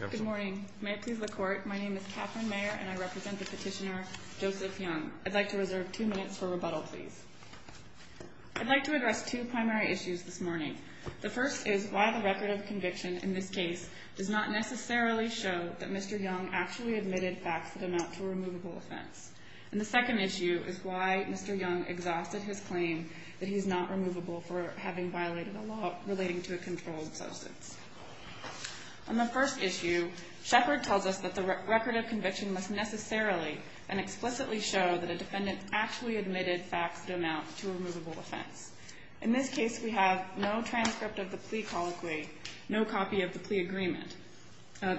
Good morning. May it please the Court, my name is Katherine Mayer and I represent the petitioner Joseph Young. I'd like to reserve two minutes for rebuttal, please. I'd like to address two primary issues this morning. The first is why the record of conviction in this case does not necessarily show that Mr. Young actually admitted facts that amount to a removable offense. And the second issue is why Mr. Young exhausted his claim that he's not removable for having violated a law relating to a controlled substance. On the first issue, Shepard tells us that the record of conviction must necessarily and explicitly show that a defendant actually admitted facts that amount to a removable offense. In this case, we have no transcript of the plea colloquy, no copy of the plea agreement.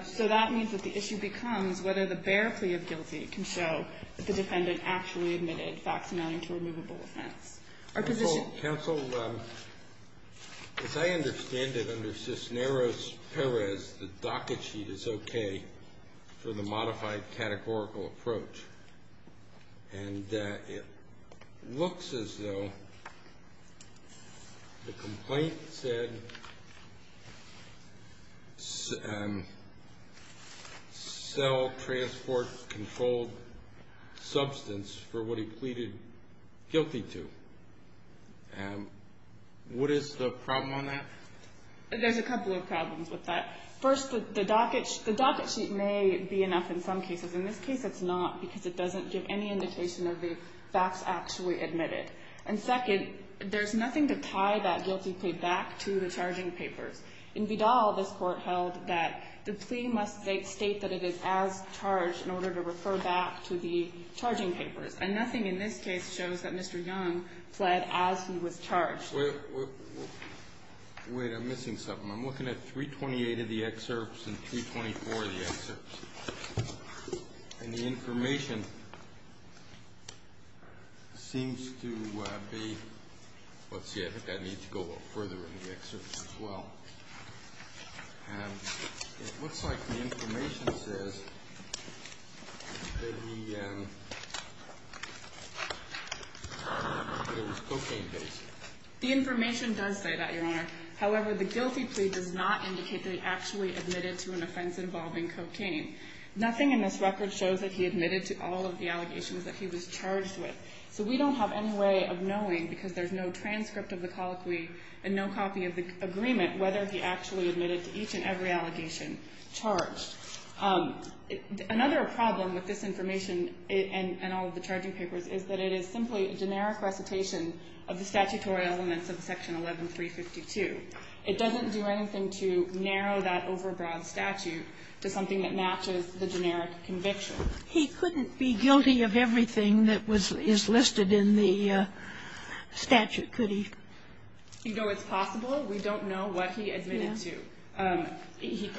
So that means that the issue becomes whether the bare plea of guilty can show that the defendant actually admitted facts amounting to a removable offense. Counsel, as I understand it under Cisneros-Perez, the docket sheet is okay for the modified categorical approach. And it looks as though the complaint said sell transport controlled substance for what he pleaded guilty to. What is the problem on that? There's a couple of problems with that. First, the docket sheet may be enough in some cases. In this case, it's not because it doesn't give any indication of the facts actually admitted. And second, there's nothing to tie that guilty plea back to the charging papers. In Vidal, this Court held that the plea must state that it is as charged in order to refer back to the charging papers. And nothing in this case shows that Mr. Young pled as he was charged. Wait, I'm missing something. I'm looking at 328 of the excerpts and 324 of the excerpts. And the information seems to be, let's see, I think I need to go a little further in the excerpts as well. And it looks like the information says that he, that it was cocaine-based. The information does say that, Your Honor. However, the guilty plea does not indicate that it actually admitted to an offense involving cocaine. Nothing in this record shows that he admitted to all of the allegations that he was charged with. So we don't have any way of knowing, because there's no transcript of the colloquy and no copy of the agreement, whether he actually admitted to each and every allegation charged. Another problem with this information and all of the charging papers is that it is simply a generic recitation of the statutory elements of Section 11352. It doesn't do anything to narrow that overbroad statute to something that matches the generic conviction. He couldn't be guilty of everything that was listed in the statute, could he? You know, it's possible. We don't know what he admitted to. His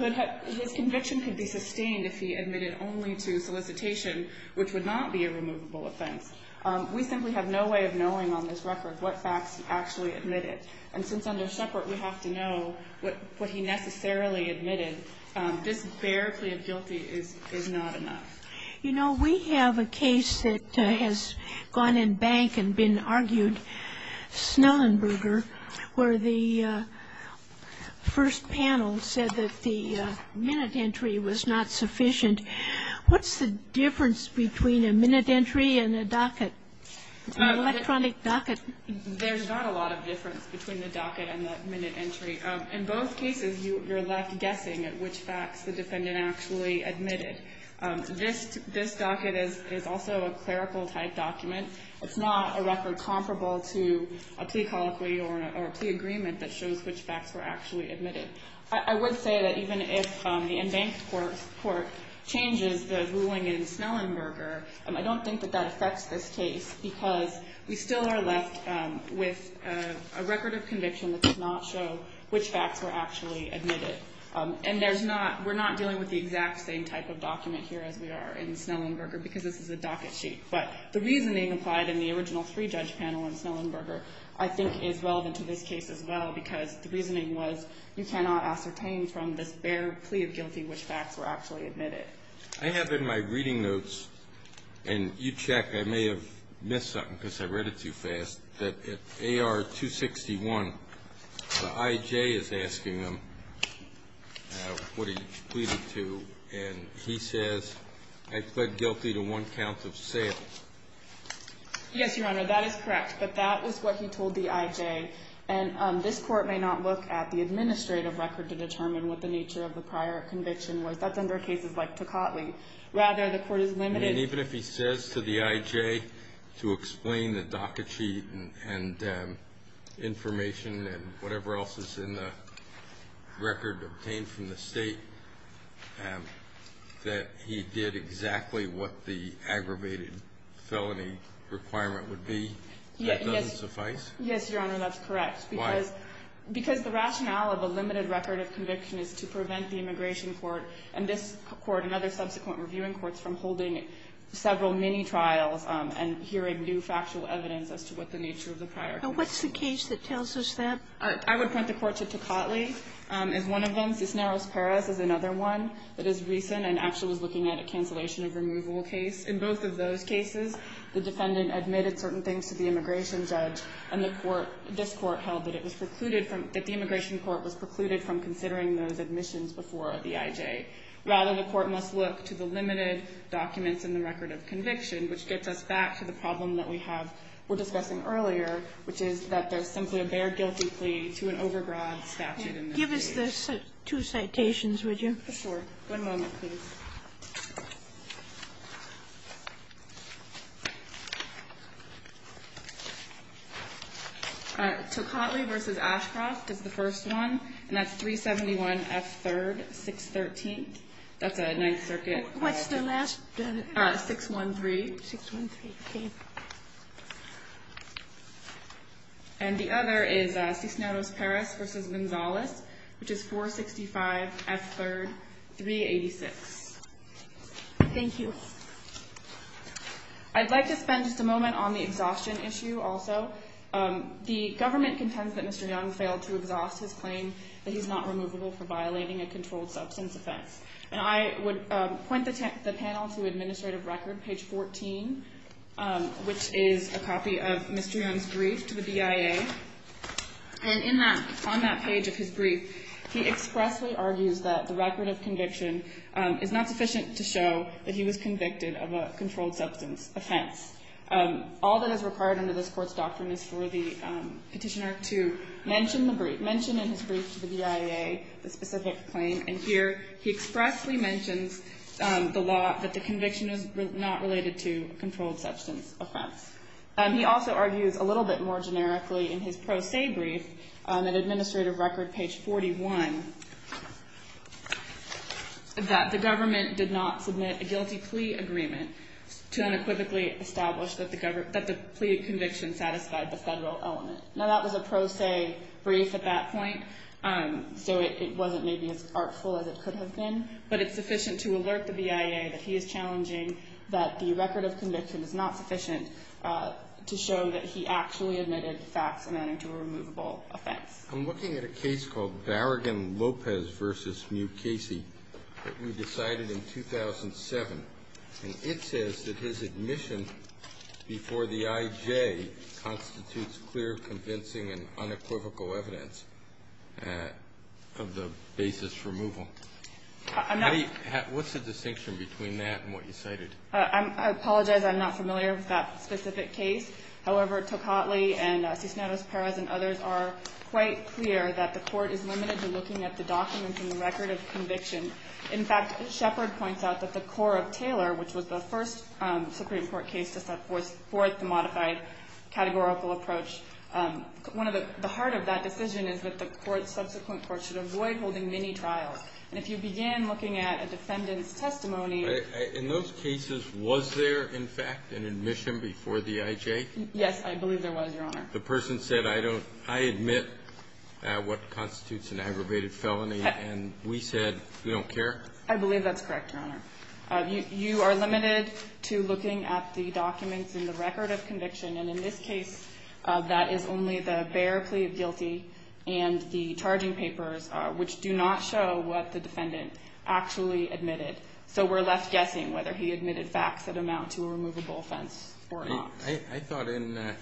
conviction could be sustained if he admitted only to solicitation, which would not be a removable offense. We simply have no way of knowing on this record what facts he actually admitted. And since under Shepard we have to know what he necessarily admitted, this bare plea of guilty is not enough. You know, we have a case that has gone in bank and been argued, Snellenberger, where the first panel said that the minute entry was not sufficient. What's the difference between a minute entry and a docket, an electronic docket? There's not a lot of difference between the docket and the minute entry. In both cases, you're left guessing at which facts the defendant actually admitted. This docket is also a clerical-type document. It's not a record comparable to a plea colloquy or a plea agreement that shows which facts were actually admitted. I would say that even if the in-bank court changes the ruling in Snellenberger, I don't think that that affects this case because we still are left with a record of conviction that does not show which facts were actually admitted. And there's not we're not dealing with the exact same type of document here as we are in Snellenberger because this is a docket sheet. But the reasoning applied in the original three-judge panel in Snellenberger I think is relevant to this case as well because the reasoning was you cannot ascertain from this bare plea of guilty which facts were actually admitted. I have in my reading notes, and you check. I may have missed something because I read it too fast. At AR 261, the I.J. is asking him what he pleaded to, and he says, I pled guilty to one count of sales. Yes, Your Honor, that is correct. But that is what he told the I.J. And this Court may not look at the administrative record to determine what the nature of the prior conviction was. That's under cases like Tocatli. Rather, the Court is limited. And even if he says to the I.J. to explain the docket sheet and information and whatever else is in the record obtained from the State, that he did exactly what the aggravated felony requirement would be, that doesn't suffice? Why? Because the rationale of a limited record of conviction is to prevent the Immigration Court and this Court and other subsequent reviewing courts from holding several mini-trials and hearing new factual evidence as to what the nature of the prior conviction was. Sotomayor And what's the case that tells us that? I would point the Court to Tocatli as one of them. Cisneros-Perez is another one that is recent and actually was looking at a cancellation of removal case. In both of those cases, the defendant admitted certain things to the immigration judge, and the Court – this Court held that it was precluded from – that the Immigration Court was precluded from considering those admissions before the I.J. Rather, the Court must look to the limited documents in the record of conviction, which gets us back to the problem that we have – we're discussing earlier, which is that there's simply a bare guilty plea to an overgrab statute in this case. Give us the two citations, would you? For sure. One moment, please. Tocatli v. Ashcroft is the first one, and that's 371F3rd, 613th. That's a Ninth Circuit. What's the last? 613. 613, okay. And the other is Cisneros-Perez v. Gonzalez, which is 465F3rd, 386th. Thank you. I'd like to spend just a moment on the exhaustion issue also. The government contends that Mr. Young failed to exhaust his claim that he's not removable for violating a controlled substance offense. And I would point the panel to Administrative Record, page 14, which is a copy of Mr. Young's brief to the BIA. And in that – on that page of his brief, he expressly argues that the record of conviction is not sufficient to show that he was convicted of a controlled substance offense. All that is required under this Court's doctrine is for the Petitioner to mention the brief – mention in his brief to the BIA the specific claim. And here he expressly mentions the law that the conviction is not related to a controlled substance offense. He also argues a little bit more generically in his pro se brief in Administrative Record, page 41, that the government did not submit a guilty plea agreement to unequivocally establish that the plea conviction satisfied the federal element. Now, that was a pro se brief at that point, so it wasn't maybe as artful as it could have been. But it's sufficient to alert the BIA that he is challenging that the record of conviction is not sufficient to show that he actually admitted facts amounting to a removable offense. I'm looking at a case called Barragan-Lopez v. Mukasey that we decided in 2007. And it says that his admission before the I.J. constitutes clear, convincing and unequivocal evidence of the basis for removal. What's the distinction between that and what you cited? I apologize. I'm not familiar with that specific case. However, Tocatli and Cisneros-Perez and others are quite clear that the Court is limited to looking at the documents in the record of conviction. In fact, Shepard points out that the core of Taylor, which was the first Supreme Court case to set forth the modified categorical approach, one of the heart of that decision is that the court's subsequent court should avoid holding mini-trials. And if you begin looking at a defendant's testimony ---- In those cases, was there, in fact, an admission before the I.J.? Yes, I believe there was, Your Honor. The person said, I don't ---- I admit what constitutes an aggravated felony. And we said, we don't care? I believe that's correct, Your Honor. You are limited to looking at the documents in the record of conviction. And in this case, that is only the bare plea of guilty and the charging papers, which do not show what the defendant actually admitted. So we're left guessing whether he admitted facts that amount to a removable offense or not. I thought in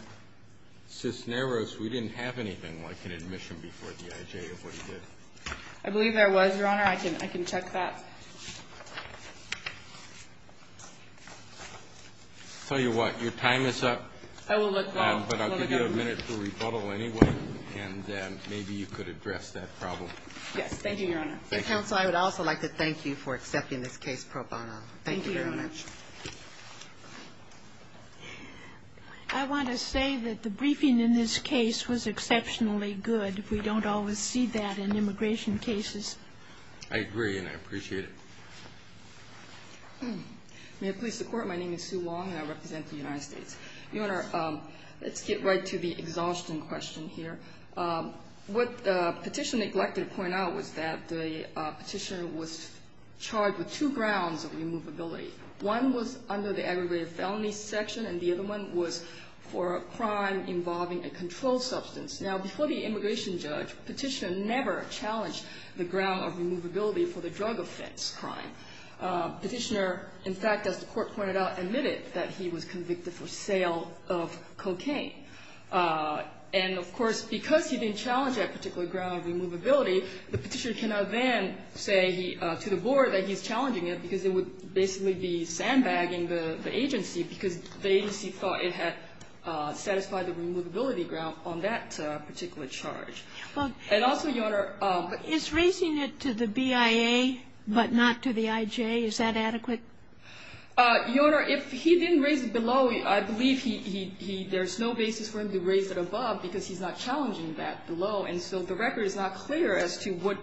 Cisneros, we didn't have anything like an admission before the I.J. of what he did. I believe there was, Your Honor. I can check that. Tell you what, your time is up. I will look, though. But I'll give you a minute for rebuttal anyway, and then maybe you could address that problem. Yes. Thank you, Your Honor. Counsel, I would also like to thank you for accepting this case pro bono. Thank you very much. Thank you, Your Honor. I want to say that the briefing in this case was exceptionally good. We don't always see that in immigration cases. I agree, and I appreciate it. May it please the Court. My name is Sue Wong, and I represent the United States. Your Honor, let's get right to the exhaustion question here. What Petitioner neglected to point out was that the Petitioner was charged with two grounds of removability. One was under the aggravated felony section, and the other one was for a crime involving a controlled substance. Now, before the immigration judge, Petitioner never challenged the ground of removability for the drug offense crime. Petitioner, in fact, as the Court pointed out, admitted that he was convicted for sale of cocaine. And, of course, because he didn't challenge that particular ground of removability, the Petitioner cannot then say to the Board that he's challenging it because it would basically be sandbagging the agency because the agency thought it had satisfied the removability ground on that particular charge. And also, Your Honor ---- Is raising it to the BIA, but not to the IJ, is that adequate? Your Honor, if he didn't raise it below, I believe he ---- there's no basis for him to raise it above because he's not challenging that below. And so the record is not clear as to what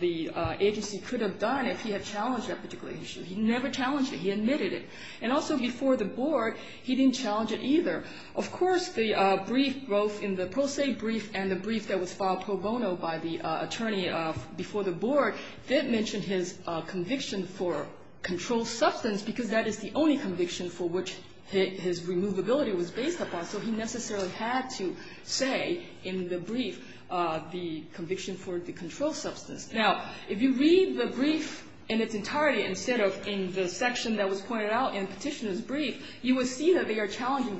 the agency could have done if he had challenged that particular issue. He never challenged it. He admitted it. And also, before the Board, he didn't challenge it either. Of course, the brief both in the pro se brief and the brief that was filed pro bono by the attorney before the Board did mention his conviction for controlled substance because that is the only conviction for which his removability was based upon. So he necessarily had to say in the brief the conviction for the controlled substance. Now, if you read the brief in its entirety instead of in the section that was filed in Petitioner's brief, you would see that they are challenging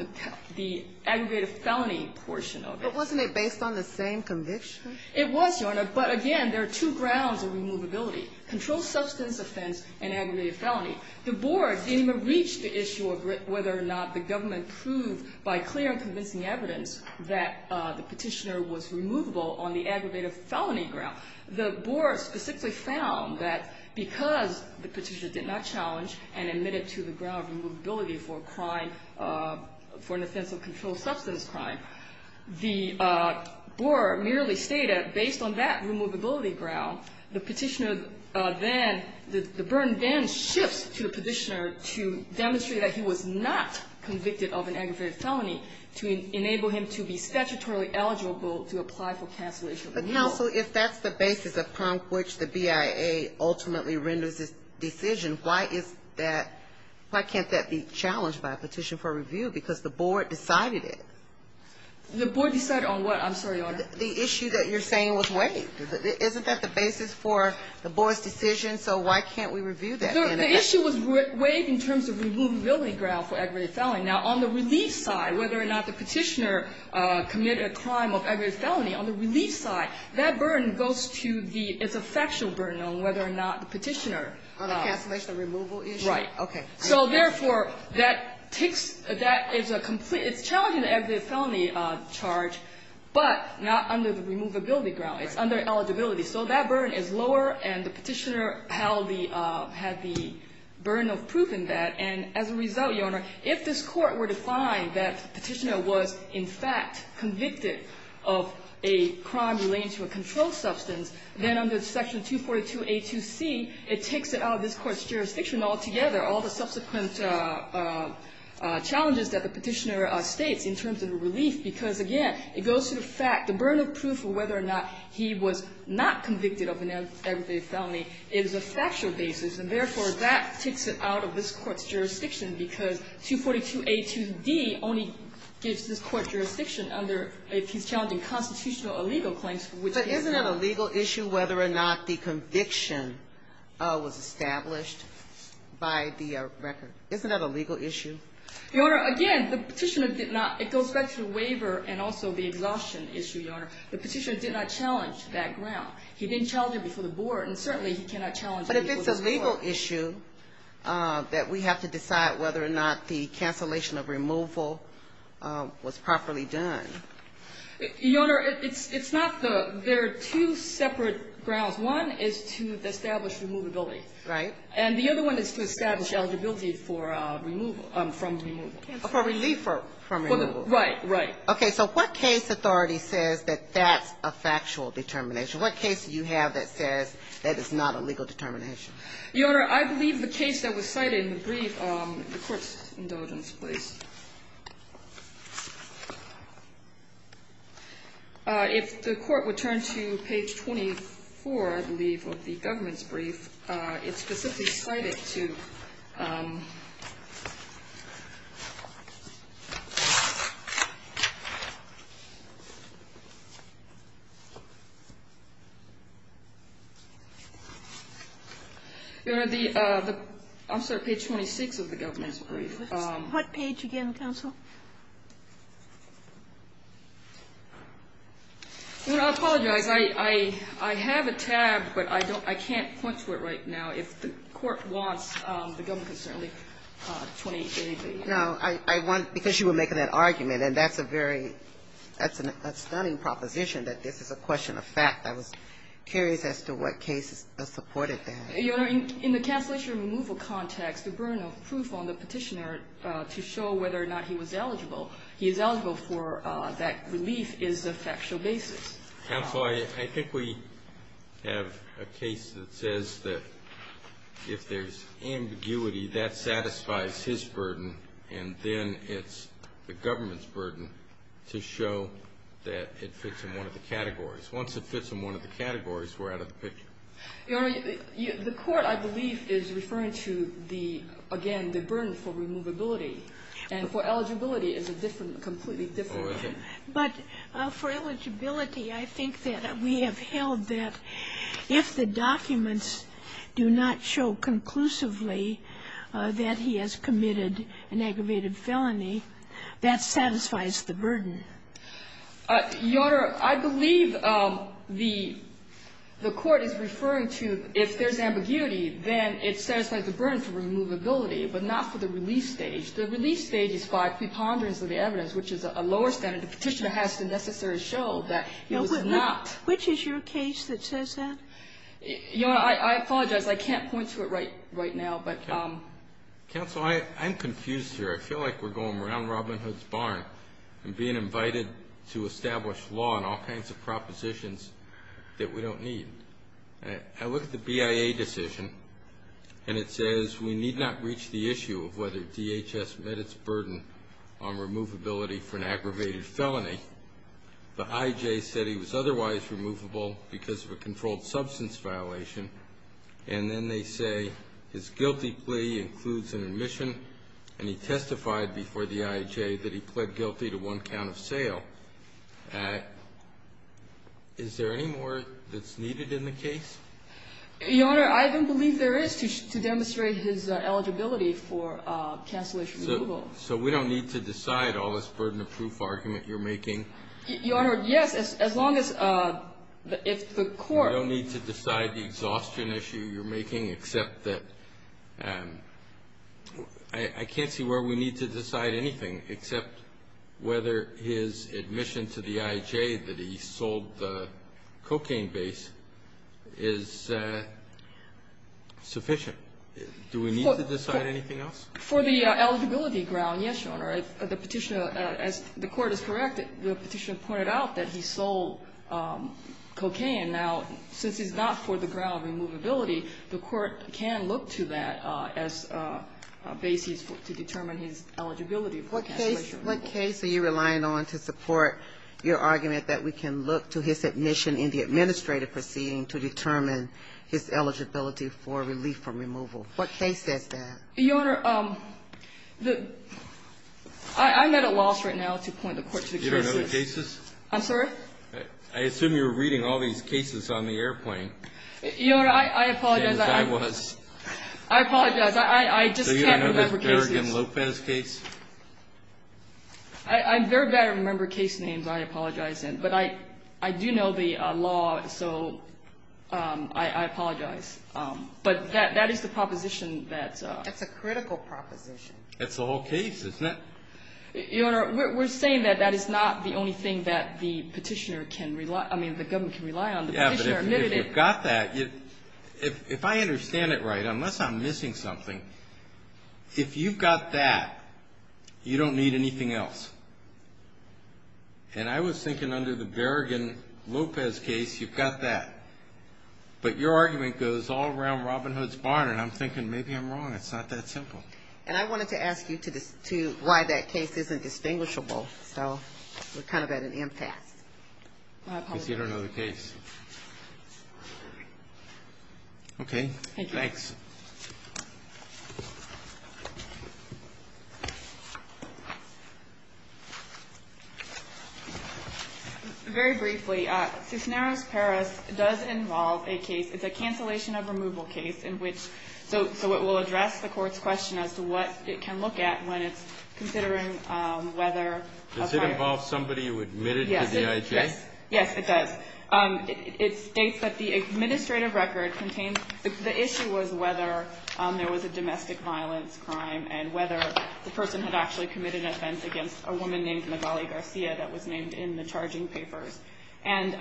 the aggravated felony portion of it. But wasn't it based on the same conviction? It was, Your Honor. But again, there are two grounds of removability, controlled substance offense and aggravated felony. The Board didn't reach the issue of whether or not the government proved by clear and convincing evidence that the Petitioner was removable on the aggravated felony ground. The Board specifically found that because the Petitioner did not challenge and admit to the ground of removability for a crime, for an offense of controlled substance crime, the Board merely stated based on that removability ground, the Petitioner then, the burden then shifts to the Petitioner to demonstrate that he was not convicted of an aggravated felony to enable him to be statutorily eligible to apply for cancellation of removal. But counsel, if that's the basis upon which the BIA ultimately renders its decision, why is that, why can't that be challenged by a petition for review? Because the Board decided it. The Board decided on what? I'm sorry, Your Honor. The issue that you're saying was waived. Isn't that the basis for the Board's decision? So why can't we review that? The issue was waived in terms of removability ground for aggravated felony. Now, on the relief side, whether or not the Petitioner committed a crime of aggravated felony, on the relief side, that burden goes to the, it's a factual burden on whether or not the Petitioner. On the cancellation of removal issue? Right. Okay. So therefore, that takes, that is a complete, it's challenging the aggravated felony charge, but not under the removability ground. Right. It's under eligibility. So that burden is lower, and the Petitioner held the, had the burden of proving that. And as a result, Your Honor, if this Court were to find that the Petitioner was in fact convicted of a crime relating to a controlled substance, then under Section 242A2C, it takes it out of this Court's jurisdiction altogether, all the subsequent challenges that the Petitioner states in terms of relief. Because again, it goes to the fact, the burden of proof of whether or not he was not convicted of an aggravated felony is a factual basis. And therefore, that takes it out of this Court's jurisdiction, because 242A2D only gives this Court jurisdiction under, if he's challenging constitutional or legal claims. But isn't it a legal issue whether or not the conviction was established by the record? Isn't that a legal issue? Your Honor, again, the Petitioner did not, it goes back to the waiver and also the exhaustion issue, Your Honor. The Petitioner did not challenge that ground. He didn't challenge it before the Board, and certainly he cannot challenge it before the Board. But if it's a legal issue that we have to decide whether or not the cancellation of removal was properly done. Your Honor, it's not the, there are two separate grounds. One is to establish removability. Right. And the other one is to establish eligibility for removal, from removal. For relief from removal. Right, right. Okay. So what case authority says that that's a factual determination? What case do you have that says that it's not a legal determination? Your Honor, I believe the case that was cited in the brief, the Court's indulgence, please. If the Court would turn to page 24, I believe, of the government's brief, it specifically cited to, Your Honor, the, I'm sorry, page 26 of the government's brief. What page again, counsel? Your Honor, I apologize. I have a tab, but I don't, I can't point to it right now. If the Court wants, the government can certainly point to anything. No. I want, because you were making that argument, and that's a very, that's a stunning proposition, that this is a question of fact. I was curious as to what case supported that. Your Honor, in the cancellation removal context, the burden of proof on the petitioner to show whether or not he was eligible, he is eligible for that relief is a factual basis. Counsel, I think we have a case that says that if there's ambiguity, that satisfies his burden, and then it's the government's burden to show that it fits in one of the categories. Once it fits in one of the categories, we're out of the picture. Your Honor, the Court, I believe, is referring to the, again, the burden for removability. And for eligibility, it's a different, completely different. Oh, is it? But for eligibility, I think that we have held that if the documents do not show conclusively that he has committed an aggravated felony, that satisfies the burden. Your Honor, I believe the Court is referring to if there's ambiguity, then it satisfies the burden for removability, but not for the release stage. The release stage is by preponderance of the evidence, which is a lower standard. The petitioner has to necessarily show that he was not. Which is your case that says that? Your Honor, I apologize. I can't point to it right now. But counsel, I'm confused here. I feel like we're going around Robin Hood's barn and being invited to establish law and all kinds of propositions that we don't need. I look at the BIA decision, and it says we need not reach the issue of whether DHS met its burden on removability for an aggravated felony. The IJ said he was otherwise removable because of a controlled substance violation. And then they say his guilty plea includes an admission, and he testified before the IJ that he pled guilty to one count of sale. Is there any more that's needed in the case? Your Honor, I don't believe there is to demonstrate his eligibility for cancellation of removal. So we don't need to decide all this burden of proof argument you're making? Your Honor, yes, as long as the Court. You don't need to decide the exhaustion issue you're making, except that I can't see where we need to decide anything except whether his admission to the IJ that he sold the cocaine base is sufficient. Do we need to decide anything else? As the Court is correct, the Petitioner pointed out that he sold cocaine. Now, since he's not for the ground of removability, the Court can look to that as a basis to determine his eligibility for cancellation of removal. What case are you relying on to support your argument that we can look to his admission in the administrative proceeding to determine his eligibility for relief from removal? What case says that? Your Honor, I'm at a loss right now to point the Court to the cases. You don't know the cases? I'm sorry? I assume you're reading all these cases on the airplane. Your Honor, I apologize. James, I was. I apologize. I just can't remember cases. So you don't know this Berrigan Lopez case? I'm very bad at remembering case names I apologize in. But I do know the law, so I apologize. But that is the proposition that. That's a critical proposition. That's the whole case, isn't it? Your Honor, we're saying that that is not the only thing that the Petitioner can rely on, I mean the government can rely on. Yeah, but if you've got that, if I understand it right, unless I'm missing something, if you've got that, you don't need anything else. And I was thinking under the Berrigan Lopez case, you've got that. But your argument goes all around Robin Hood's barn, and I'm thinking maybe I'm wrong. It's not that simple. And I wanted to ask you why that case isn't distinguishable. So we're kind of at an impasse. Because you don't know the case. Okay. Thank you. Thanks. Very briefly, Cisneros-Perez does involve a case. It's a cancellation of removal case. So it will address the Court's question as to what it can look at when it's considering whether. Does it involve somebody who admitted to the IJ? Yes, it does. It states that the administrative record contains, the issue was whether there was a domestic violence crime and whether the person had actually committed an offense against a woman named Magali Garcia that was named in the charging papers. And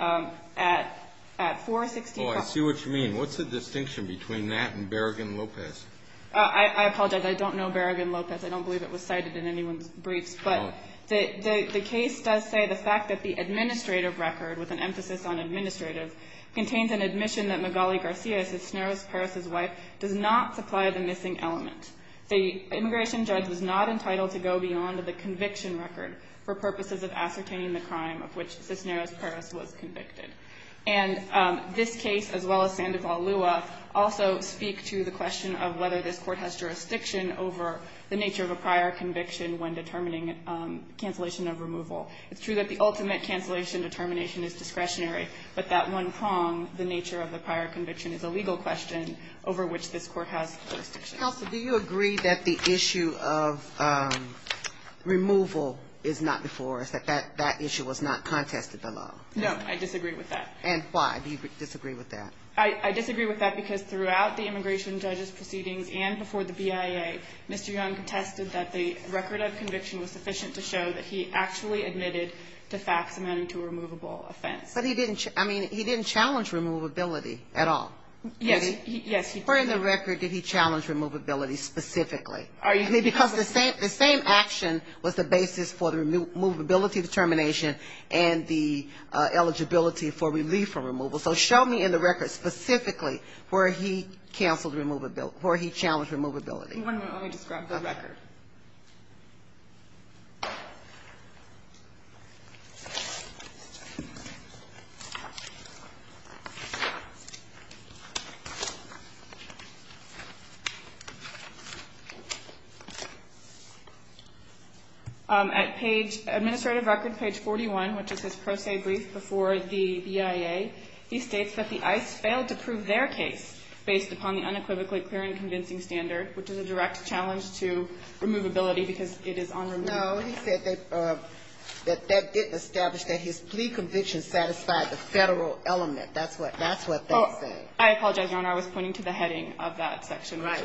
at 416- Oh, I see what you mean. What's the distinction between that and Berrigan Lopez? I apologize. I don't know Berrigan Lopez. I don't believe it was cited in anyone's briefs. But the case does say the fact that the administrative record, with an emphasis on administrative, contains an admission that Magali Garcia, Cisneros-Perez's wife, does not supply the missing element. The immigration judge was not entitled to go beyond the conviction record for purposes of ascertaining the crime of which Cisneros-Perez was convicted. And this case, as well as Sandoval-Lua, also speak to the question of whether this Court has jurisdiction over the nature of a prior conviction when determining cancellation of removal. It's true that the ultimate cancellation determination is discretionary, but that one prong, the nature of the prior conviction, is a legal question over which this Court has jurisdiction. Counsel, do you agree that the issue of removal is not before us, that that issue was not contested by law? No, I disagree with that. And why do you disagree with that? I disagree with that because throughout the immigration judge's proceedings and before the BIA, Mr. Young contested that the record of conviction was sufficient to show that he actually admitted to facts amounting to a removable offense. But he didn't challenge removability at all. Yes, he did. Where in the record did he challenge removability specifically? Because the same action was the basis for the removability determination and the eligibility for relief from removal. So show me in the record specifically where he canceled removability or where he challenged removability. One moment. Let me just grab the record. Okay. At page, administrative record, page 41, which is his pro se brief before the BIA, he states that the ICE failed to prove their case based upon the unequivocally clear and convincing standard, which is a direct challenge to removability because it is unremovable. No, he said that that didn't establish that his plea conviction satisfied the Federal element. That's what they say. I apologize, Your Honor. I was pointing to the heading of that section. Right.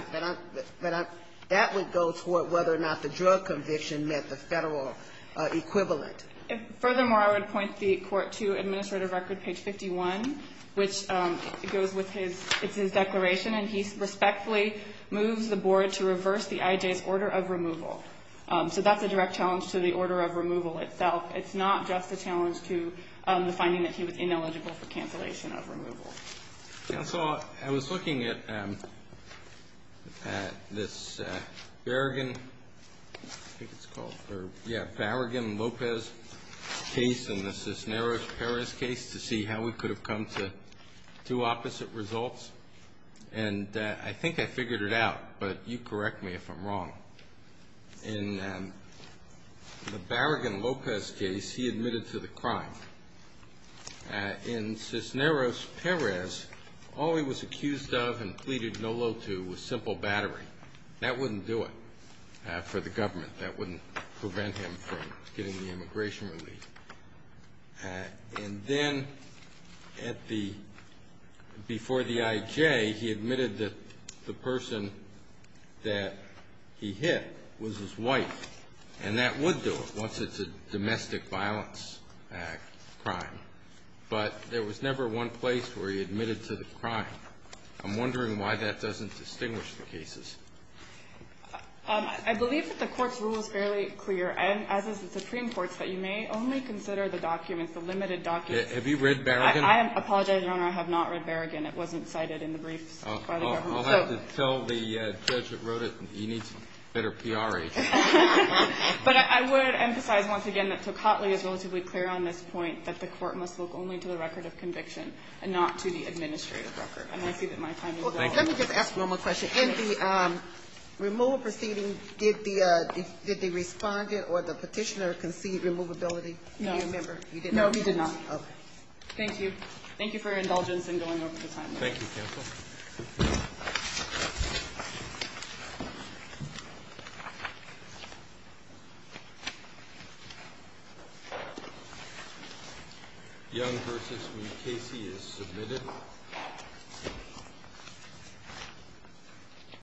But that would go toward whether or not the drug conviction met the Federal equivalent. Furthermore, I would point the court to administrative record, page 51, which goes with his declaration, and he respectfully moves the board to reverse the IJ's order of removal. So that's a direct challenge to the order of removal itself. It's not just a challenge to the finding that he was ineligible for cancellation of removal. Counsel, I was looking at this Barragan Lopez case and the Cisneros Perez case to see how we could have come to two opposite results, and I think I figured it out, but you correct me if I'm wrong. In the Barragan Lopez case, he admitted to the crime. In Cisneros Perez, all he was accused of and pleaded no-lo to was simple battery. That wouldn't do it for the government. That wouldn't prevent him from getting the immigration relief. And then before the IJ, he admitted that the person that he hit was his wife, and that would do it once it's a domestic violence crime. But there was never one place where he admitted to the crime. I'm wondering why that doesn't distinguish the cases. I believe that the court's rule is fairly clear, as is the Supreme Court's, that you may only consider the documents, the limited documents. Have you read Barragan? I apologize, Your Honor. I have not read Barragan. It wasn't cited in the briefs by the government. I'll have to tell the judge that wrote it, you need better PRH. But I would emphasize once again that Tocatli is relatively clear on this point, that the court must look only to the record of conviction and not to the administrative record. And I see that my time is up. Let me just ask one more question. In the removal proceeding, did the respondent or the petitioner concede removability? No. No, he did not. Thank you for your indulgence in going over the time. Thank you, counsel.